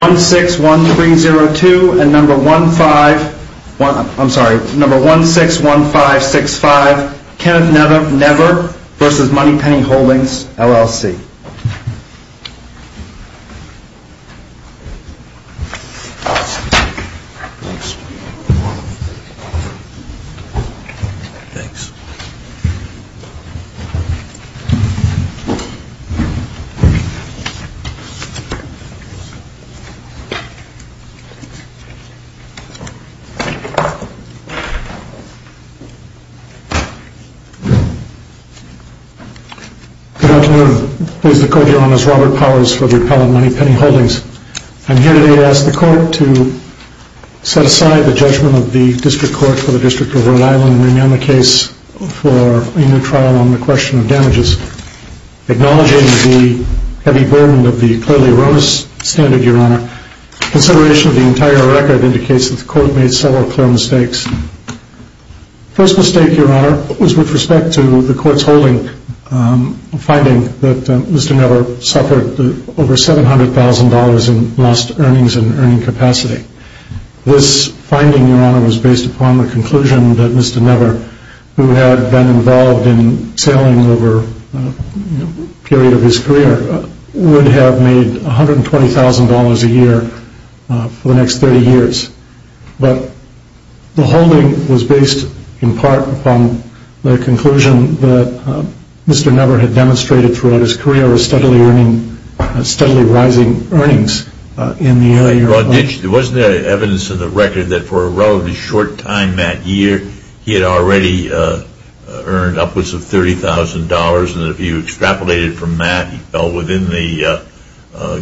161302 and number 161565 Kenneth Nevor v. Moneypenny Holdings, LLC Good afternoon. Please decode, Your Honors, Robert Powers for the Appellate Moneypenny Holdings. I'm here today to ask the Court to set aside the judgment of the District Court for the District of Rhode Island and rename the case for a new trial on the question of damages. Acknowledging the heavy burden of the clearly erroneous standard, Your Honor, consideration of the entire record indicates that the Court made several clear mistakes. First mistake, Your Honor, was with respect to the Court's holding finding that Mr. Nevor suffered over $700,000 in lost earnings and earning capacity. This finding, Your Honor, was based upon the conclusion that Mr. Nevor, who had been involved in sailing over a period of his career, would have made $120,000 a year for the next 30 years. But the holding was based in part upon the conclusion that Mr. Nevor had demonstrated throughout his career was steadily earning, steadily rising earnings in the area. Your Honor, wasn't there evidence in the record that for a relatively short time that year he had already earned upwards of $30,000 and if you extrapolated from that he fell within the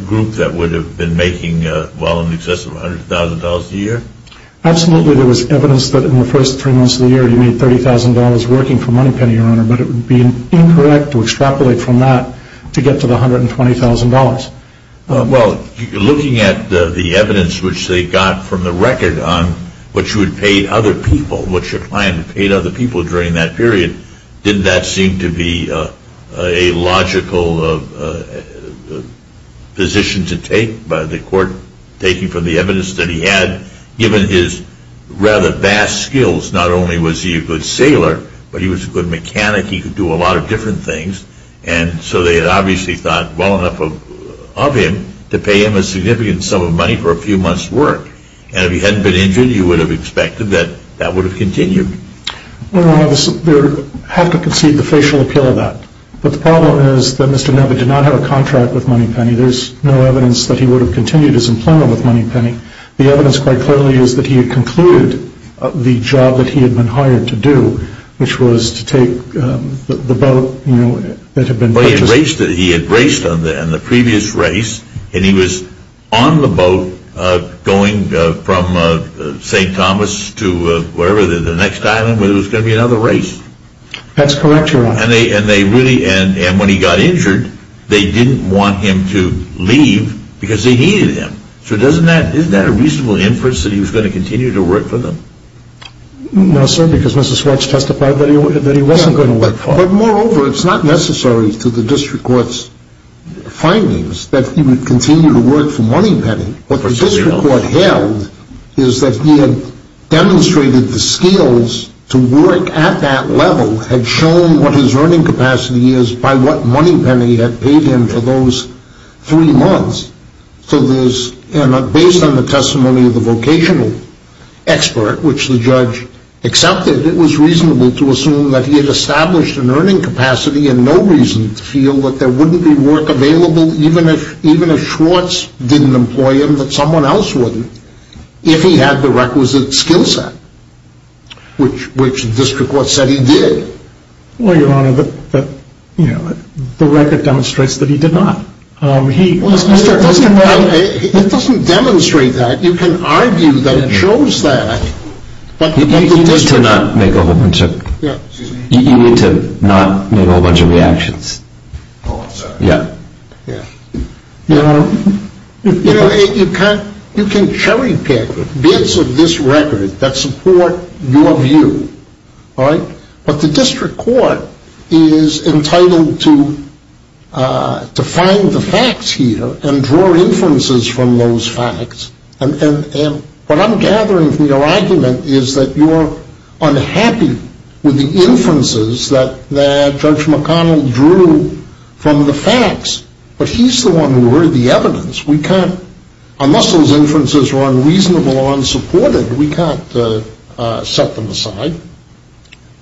group that would have been making well in excess of $100,000 a year? Absolutely, there was evidence that in the first three months of the year he made $30,000 working for Moneypenny, Your Honor, but it would be incorrect to extrapolate from that to get to the $120,000. Well, looking at the evidence which they got from the record on what you had paid other people, what your client had paid other people during that period, didn't that seem to be a logical position to take by the court, taking from the evidence that he had, given his rather vast skills, not only was he a good sailor, but he was a good mechanic, he could do a to pay him a significant sum of money for a few months' work, and if he hadn't been injured you would have expected that that would have continued. Your Honor, I have to concede the facial appeal of that, but the problem is that Mr. Nebbe did not have a contract with Moneypenny, there is no evidence that he would have continued his employment with Moneypenny. The evidence quite clearly is that he had concluded the job that he had been hired to do, which was to take the boat that had been purchased. He had raced in the previous race, and he was on the boat going from St. Thomas to the next island where there was going to be another race. That's correct, Your Honor. And when he got injured, they didn't want him to leave because they needed him. So isn't that a reasonable inference that he was going to continue to work for them? No, sir, because Mrs. Swartz testified that he wasn't going to work for them. But moreover, it's not necessary to the district court's findings that he would continue to work for Moneypenny. What the district court held is that he had demonstrated the skills to work at that level, had shown what his earning capacity is by what Moneypenny had paid him for those three months. So based on the testimony of the vocational expert, which the judge accepted, it was reasonable to assume that he had established an earning capacity and no reason to feel that there wouldn't be work available, even if Swartz didn't employ him, that someone else wouldn't, if he had the requisite skill set, which the district court said he did. Well, Your Honor, the record demonstrates that he did not. It doesn't demonstrate that. You can argue that it shows that. You need to not make a whole bunch of reactions. Oh, I'm sorry. Yeah. You know, you can cherry pick bits of this record that support your view, all right? But the district court is entitled to find the facts here and draw inferences from those facts. And what I'm gathering from your argument is that you're unhappy with the inferences that Judge McConnell drew from the facts, but he's the one who heard the evidence. We can't, unless those inferences were unreasonable or unsupported, we can't set them aside.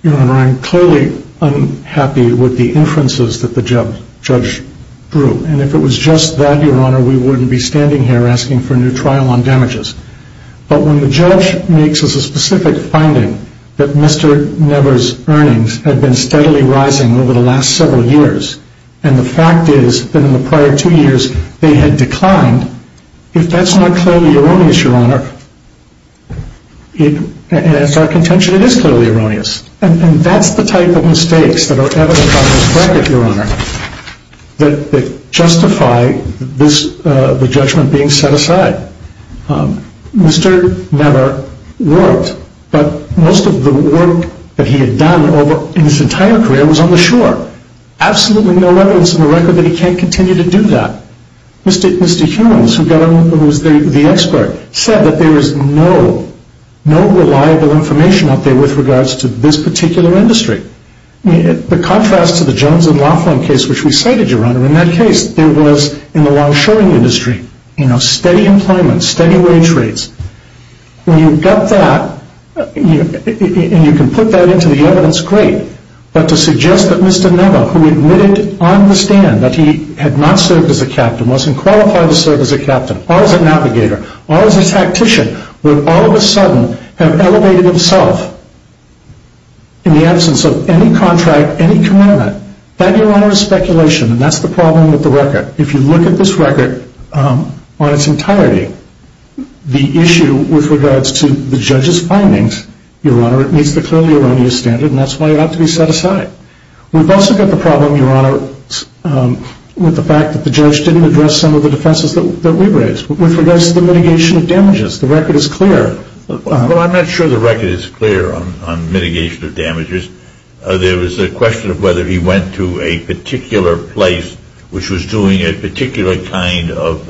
Your Honor, I'm clearly unhappy with the inferences that the judge drew. And if it was just that, Your Honor, we wouldn't be standing here asking for a new trial on damages. But when the judge makes us a specific finding that Mr. Never's earnings had been steadily rising over the last several years, and the fact is that in the prior two years they had declined, if that's not clearly erroneous, Your Honor, and it's our contention, it is clearly erroneous. And that's the type of mistakes that are evident on this record, Your Honor, that justify the judgment being set aside. Mr. Never worked, but most of the work that he had done in his entire career was on the shore. Absolutely no evidence in the record that he can't continue to do that. Mr. Humans, who was the expert, said that there is no reliable information out there with regards to this particular industry. The contrast to the Jones and Laughlin case, which we cited, Your Honor, in that case, there was, in the long-shoring industry, steady employment, steady wage rates. When you've got that, and you can put that into the evidence, great, but to suggest that Mr. Never, who admitted on the stand that he had not served as a captain, wasn't qualified to serve as a captain, or as a navigator, or as a tactician, would all of a sudden have elevated himself in the absence of any contract, any commitment, that, Your Honor, is speculation, and that's the problem with the record. If you look at this record on its entirety, the issue with regards to the judge's findings, Your Honor, it meets the clearly erroneous standard, and that's why it ought to be set aside. We've also got the problem, Your Honor, with the fact that the judge didn't address some of the defenses that we raised. With regards to the mitigation of damages, the record is clear. Well, I'm not sure the record is clear on mitigation of damages. There was a question of whether he went to a particular place, which was doing a particular kind of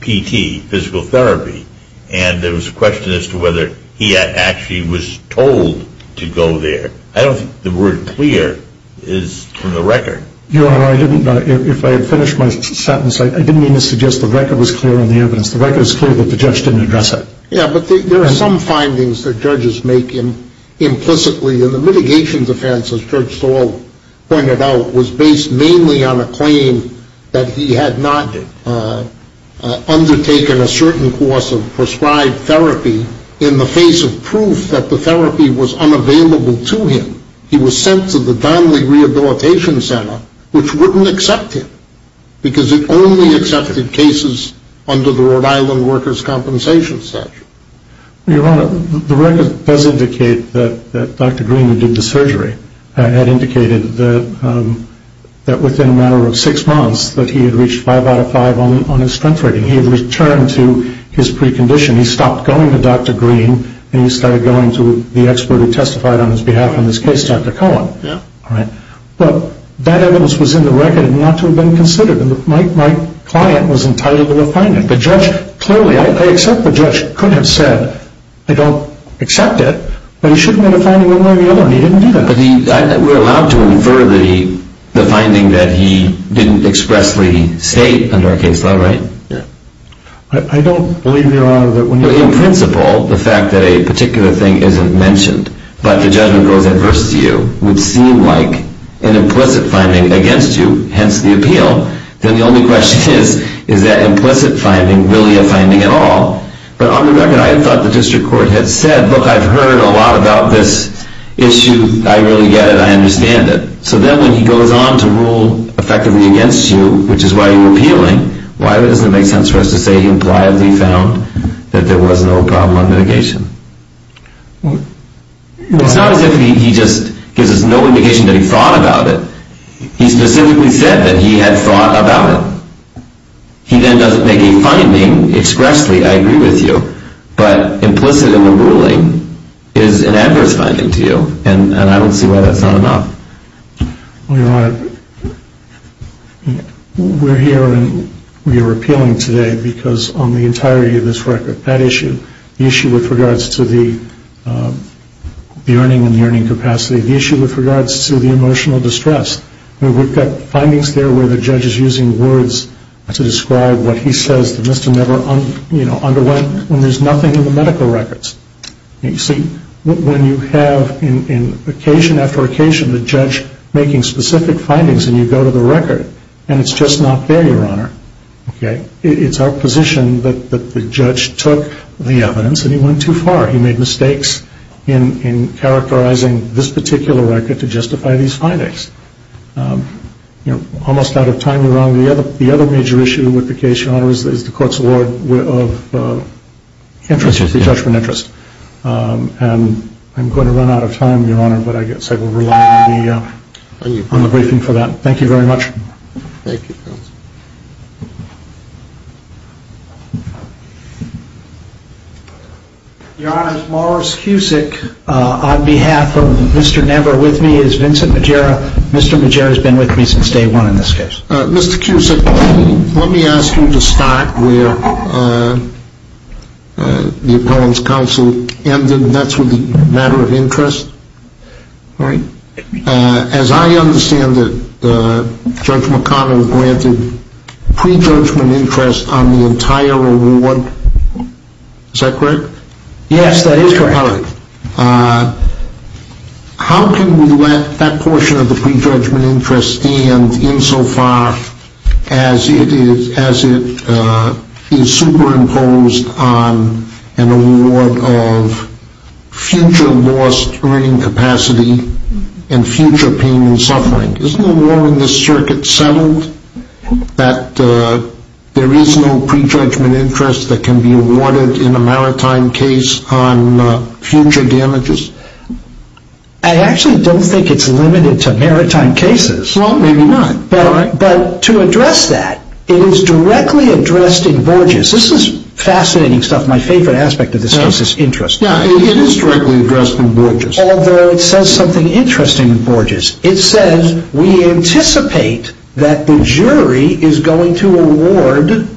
PT, physical therapy, and there was a question as to whether he actually was told to go there. I don't think the word clear is from the record. Your Honor, if I had finished my sentence, I didn't mean to suggest the record was clear on the evidence. The record is clear that the judge didn't address it. Yeah, but there are some findings that judges make implicitly, and the mitigation defense, as Judge Stahl pointed out, was based mainly on a claim that he had not undertaken a certain course of prescribed therapy in the face of proof that the therapy was unavailable to him. He was sent to the Donnelly Rehabilitation Center, which wouldn't accept him, because it only accepted cases under the Rhode Island workers' compensation statute. Your Honor, the record does indicate that Dr. Green, who did the surgery, had indicated that within a matter of six months that he had reached five out of five on his strength rating. He had returned to his precondition. He stopped going to Dr. Green, and he started going to the expert who testified on his behalf in this case, Dr. Cohen. Yeah. But that evidence was in the record and not to have been considered, and my client was entitled to a finding. But clearly, I accept the judge could have said, I don't accept it, but he should have made a finding one way or the other, and he didn't do that. But we're allowed to infer the finding that he didn't expressly state under our case law, right? I don't believe, Your Honor, that when you're— In principle, the fact that a particular thing isn't mentioned but the judgment goes adverse to you would seem like an implicit finding against you, hence the appeal. Then the only question is, is that implicit finding really a finding at all? But on the record, I thought the district court had said, look, I've heard a lot about this issue, I really get it, I understand it. So then when he goes on to rule effectively against you, which is why you're appealing, why doesn't it make sense for us to say he implied that he found that there was no problem on mitigation? It's not as if he just gives us no indication that he thought about it. He specifically said that he had thought about it. He then doesn't make a finding expressly, I agree with you, but implicit in the ruling is an adverse finding to you, and I don't see why that's not enough. Well, Your Honor, we're here and we are appealing today because on the entirety of this record, that issue, the issue with regards to the earning and the earning capacity, the issue with regards to the emotional distress, we've got findings there where the judge is using words to describe what he says that must have never underwent when there's nothing in the medical records. You see, when you have occasion after occasion the judge making specific findings and you go to the record and it's just not there, Your Honor, it's our position that the judge took the evidence and he went too far. He made mistakes in characterizing this particular record to justify these findings. You know, almost out of time, Your Honor, the other major issue with the case, Your Honor, is the court's award of interest, the judgment interest. And I'm going to run out of time, Your Honor, but I guess I will rely on the briefing for that. Thank you, counsel. Your Honor, Morris Cusick, on behalf of Mr. Never, with me is Vincent Majera. Mr. Majera has been with me since day one in this case. Mr. Cusick, let me ask you to start where the appellant's counsel ended. That's with the matter of interest, right? As I understand it, Judge McConnell granted pre-judgment interest on the entire award. Is that correct? Yes, that is correct. All right. How can we let that portion of the pre-judgment interest stand insofar as it is superimposed on an award of future lost earning capacity and future pain and suffering? Isn't the law in this circuit settled that there is no pre-judgment interest that can be awarded in a maritime case on future damages? I actually don't think it's limited to maritime cases. Well, maybe not. But to address that, it is directly addressed in Borges. This is fascinating stuff. My favorite aspect of this case is interest. It is directly addressed in Borges. Although it says something interesting in Borges. It says we anticipate that the jury is going to award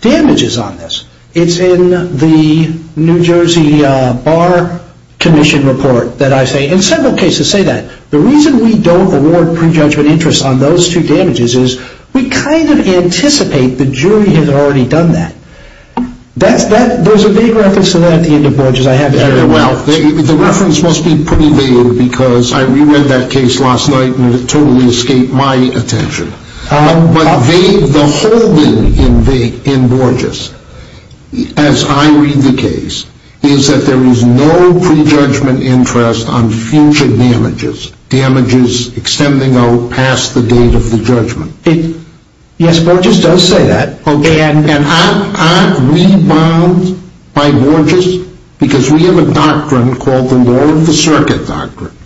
damages on this. It's in the New Jersey Bar Commission report that I say, and several cases say that, the reason we don't award pre-judgment interest on those two damages is we kind of anticipate the jury has already done that. There's a vague reference to that at the end of Borges. I haven't heard it. Well, the reference must be pretty vague because I re-read that case last night and it totally escaped my attention. But the whole thing in Borges, as I read the case, is that there is no pre-judgment interest on future damages, extending out past the date of the judgment. Yes, Borges does say that. Aren't we bound by Borges? Because we have a doctrine called the law of the circuit doctrine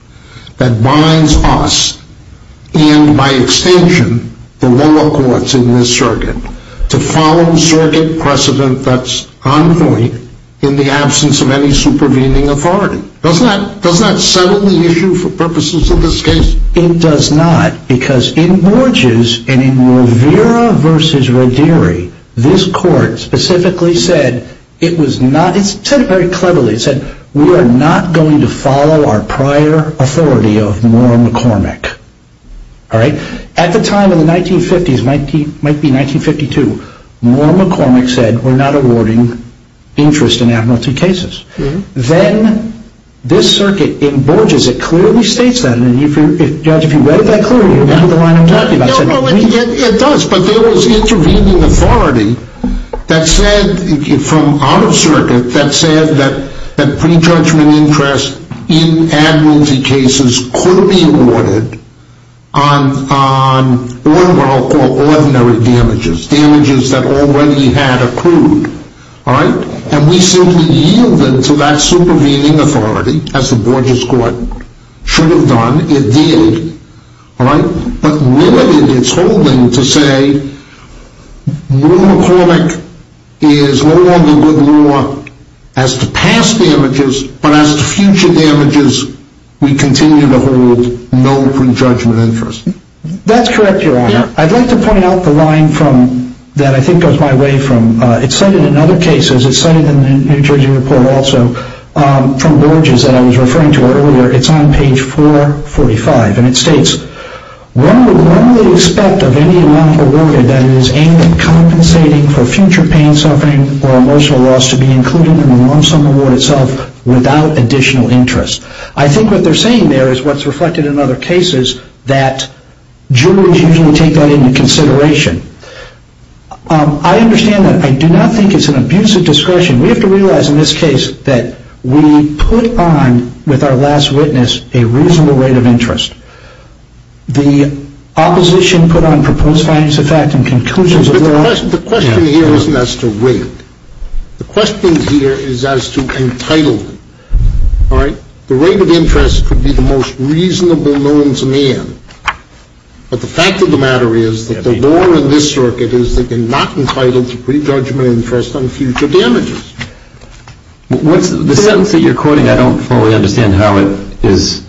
that binds us and, by extension, the lower courts in this circuit, to follow circuit precedent that's on point in the absence of any supervening authority. Does that settle the issue for purposes of this case? It does not because in Borges and in Rivera v. Roderi, this court specifically said it was not, it said it very cleverly, it said we are not going to follow our prior authority of Moore McCormick. At the time of the 1950s, it might be 1952, Moore McCormick said we're not awarding interest in amnesty cases. Then this circuit in Borges, it clearly states that. And, Judge, if you read it that clearly, you remember the line I'm talking about. It does, but there was intervening authority that said, from out of circuit, that said that pre-judgment interest in amnesty cases could be awarded on what I'll call ordinary damages, damages that already had accrued. And we simply yielded to that supervening authority, as the Borges court should have done. It did, but limited its holding to say, Moore McCormick is no longer good law as to past damages, but as to future damages, we continue to hold no pre-judgment interest. That's correct, Your Honor. I'd like to point out the line that I think goes my way from, it's cited in other cases, it's cited in the New Jersey report also, from Borges that I was referring to earlier, it's on page 445, and it states, one would normally expect of any amount awarded that it is aimed at compensating for future pain, suffering, or emotional loss to be included in the lump sum award itself without additional interest. I think what they're saying there is what's reflected in other cases, is that jurors usually take that into consideration. I understand that. I do not think it's an abuse of discretion. We have to realize in this case that we put on, with our last witness, a reasonable rate of interest. The opposition put on proposed findings of fact and conclusions of their own. But the question here isn't as to weight. The question here is as to entitlement. The rate of interest could be the most reasonable known to man. But the fact of the matter is that the law in this circuit is that you're not entitled to prejudgment interest on future damages. The sentence that you're quoting, I don't fully understand how it is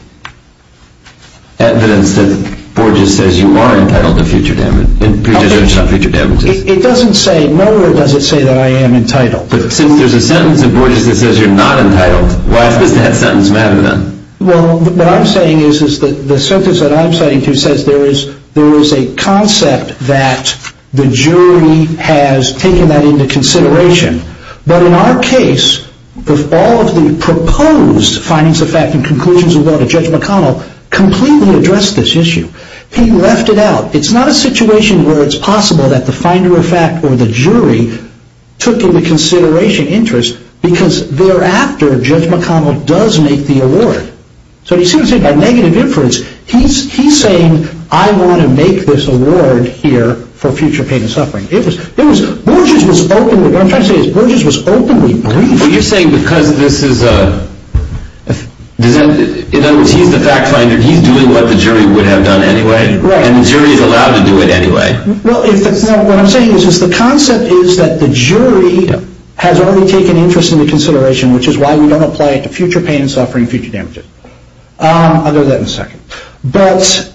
evidence that Borges says you are entitled to prejudgment on future damages. It doesn't say, nowhere does it say that I am entitled. But since there's a sentence in Borges that says you're not entitled, why does that sentence matter then? Well, what I'm saying is that the sentence that I'm citing to says there is a concept that the jury has taken that into consideration. But in our case, all of the proposed findings of fact and conclusions of law that Judge McConnell completely addressed this issue. He left it out. It's not a situation where it's possible that the finder of fact or the jury took into consideration interest because thereafter Judge McConnell does make the award. So he seems to have a negative inference. He's saying I want to make this award here for future pain and suffering. It was, Borges was openly, what I'm trying to say is Borges was openly briefed. But you're saying because this is a, in other words, he's the fact finder. He's doing what the jury would have done anyway. Right. And the jury is allowed to do it anyway. Well, what I'm saying is the concept is that the jury has already taken interest into consideration, which is why we don't apply it to future pain and suffering, future damages. I'll go to that in a second. But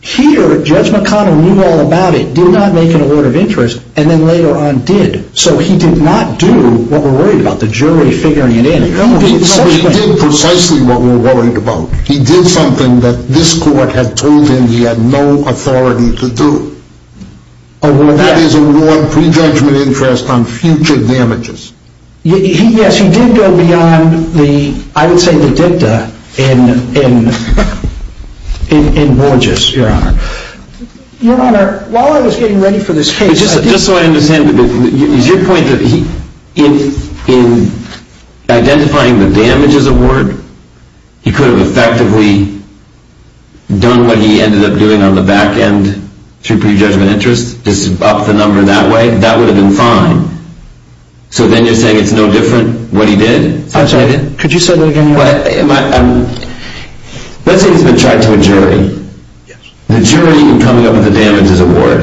here Judge McConnell knew all about it, did not make an award of interest, and then later on did. So he did not do what we're worried about, the jury figuring it in. He did precisely what we're worried about. He did something that this court had told him he had no authority to do. That is award prejudgment interest on future damages. Yes, he did go beyond the, I would say the dicta in Borges, Your Honor. Your Honor, while I was getting ready for this case. Just so I understand, is your point that in identifying the damages award, he could have effectively done what he ended up doing on the back end through prejudgment interest, just up the number that way? That would have been fine. So then you're saying it's no different what he did? I'm sorry, could you say that again? Let's say he's been tried to a jury. The jury in coming up with the damages award,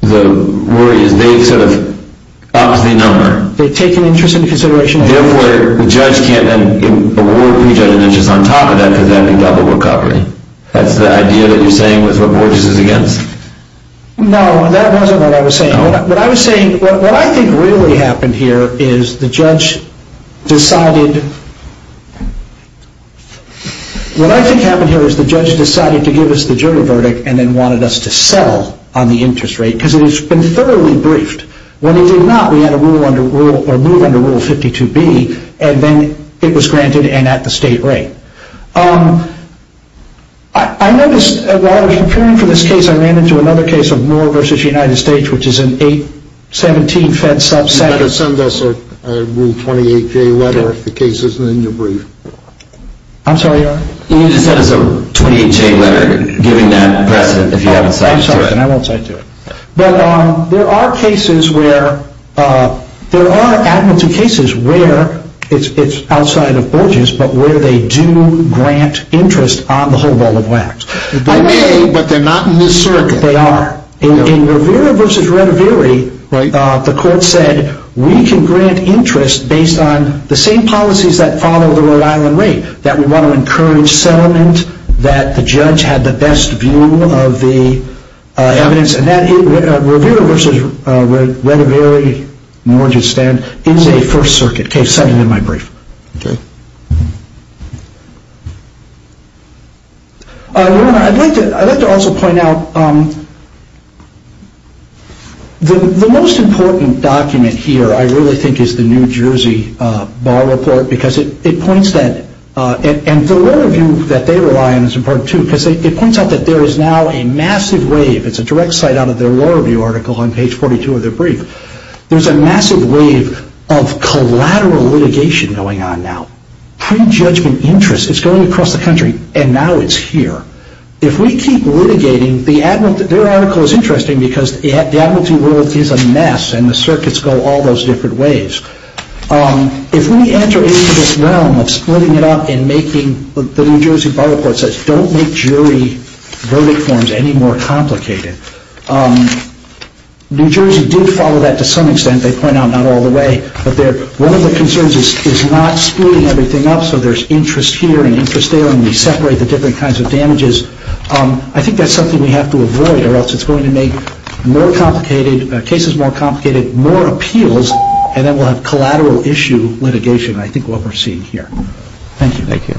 the worry is they've sort of boxed the number. They've taken interest into consideration. Therefore, the judge can't then award prejudgment interest on top of that, because that would be double recovery. That's the idea that you're saying with what Borges is against? No, that wasn't what I was saying. What I was saying, what I think really happened here is the judge decided, what I think happened here is the judge decided to give us the jury verdict and then wanted us to settle on the interest rate, because it has been thoroughly briefed. When he did not, we had a move under Rule 52B, and then it was granted and at the state rate. I noticed while I was preparing for this case, I ran into another case of Moore v. United States, which is an 817 fed subset. You've got to send us a Rule 28J letter if the case isn't in your brief. I'm sorry, Your Honor? You need to send us a 28J letter giving that precedent if you haven't cited to it. I'm sorry, and I won't cite to it. But there are cases where, there are administrative cases where it's outside of Borges, but where they do grant interest on the whole ball of wax. They may, but they're not in this circuit. They are. In Rivera v. Retiveri, the court said, we can grant interest based on the same policies that follow the Rhode Island rate, that we want to encourage settlement, that the judge had the best view of the evidence, and that Rivera v. Retiveri, Moore v. United States, is a First Circuit case, cited in my brief. Okay. Your Honor, I'd like to also point out, the most important document here, I really think, is the New Jersey Bar Report, because it points that, and the law review that they rely on is important too, because it points out that there is now a massive wave, it's a direct cite out of their law review article on page 42 of their brief, there's a massive wave of collateral litigation going on now. Pre-judgment interest, it's going across the country, and now it's here. If we keep litigating, their article is interesting, because the administrative world is a mess, and the circuits go all those different ways. If we enter into this realm of splitting it up and making, the New Jersey Bar Report says, don't make jury verdict forms any more complicated. New Jersey did follow that to some extent, they point out not all the way, but one of the concerns is not splitting everything up, so there's interest here and interest there, and we separate the different kinds of damages. I think that's something we have to avoid, or else it's going to make cases more complicated, more appeals, and then we'll have collateral issue litigation, I think, what we're seeing here. Thank you. Thank you.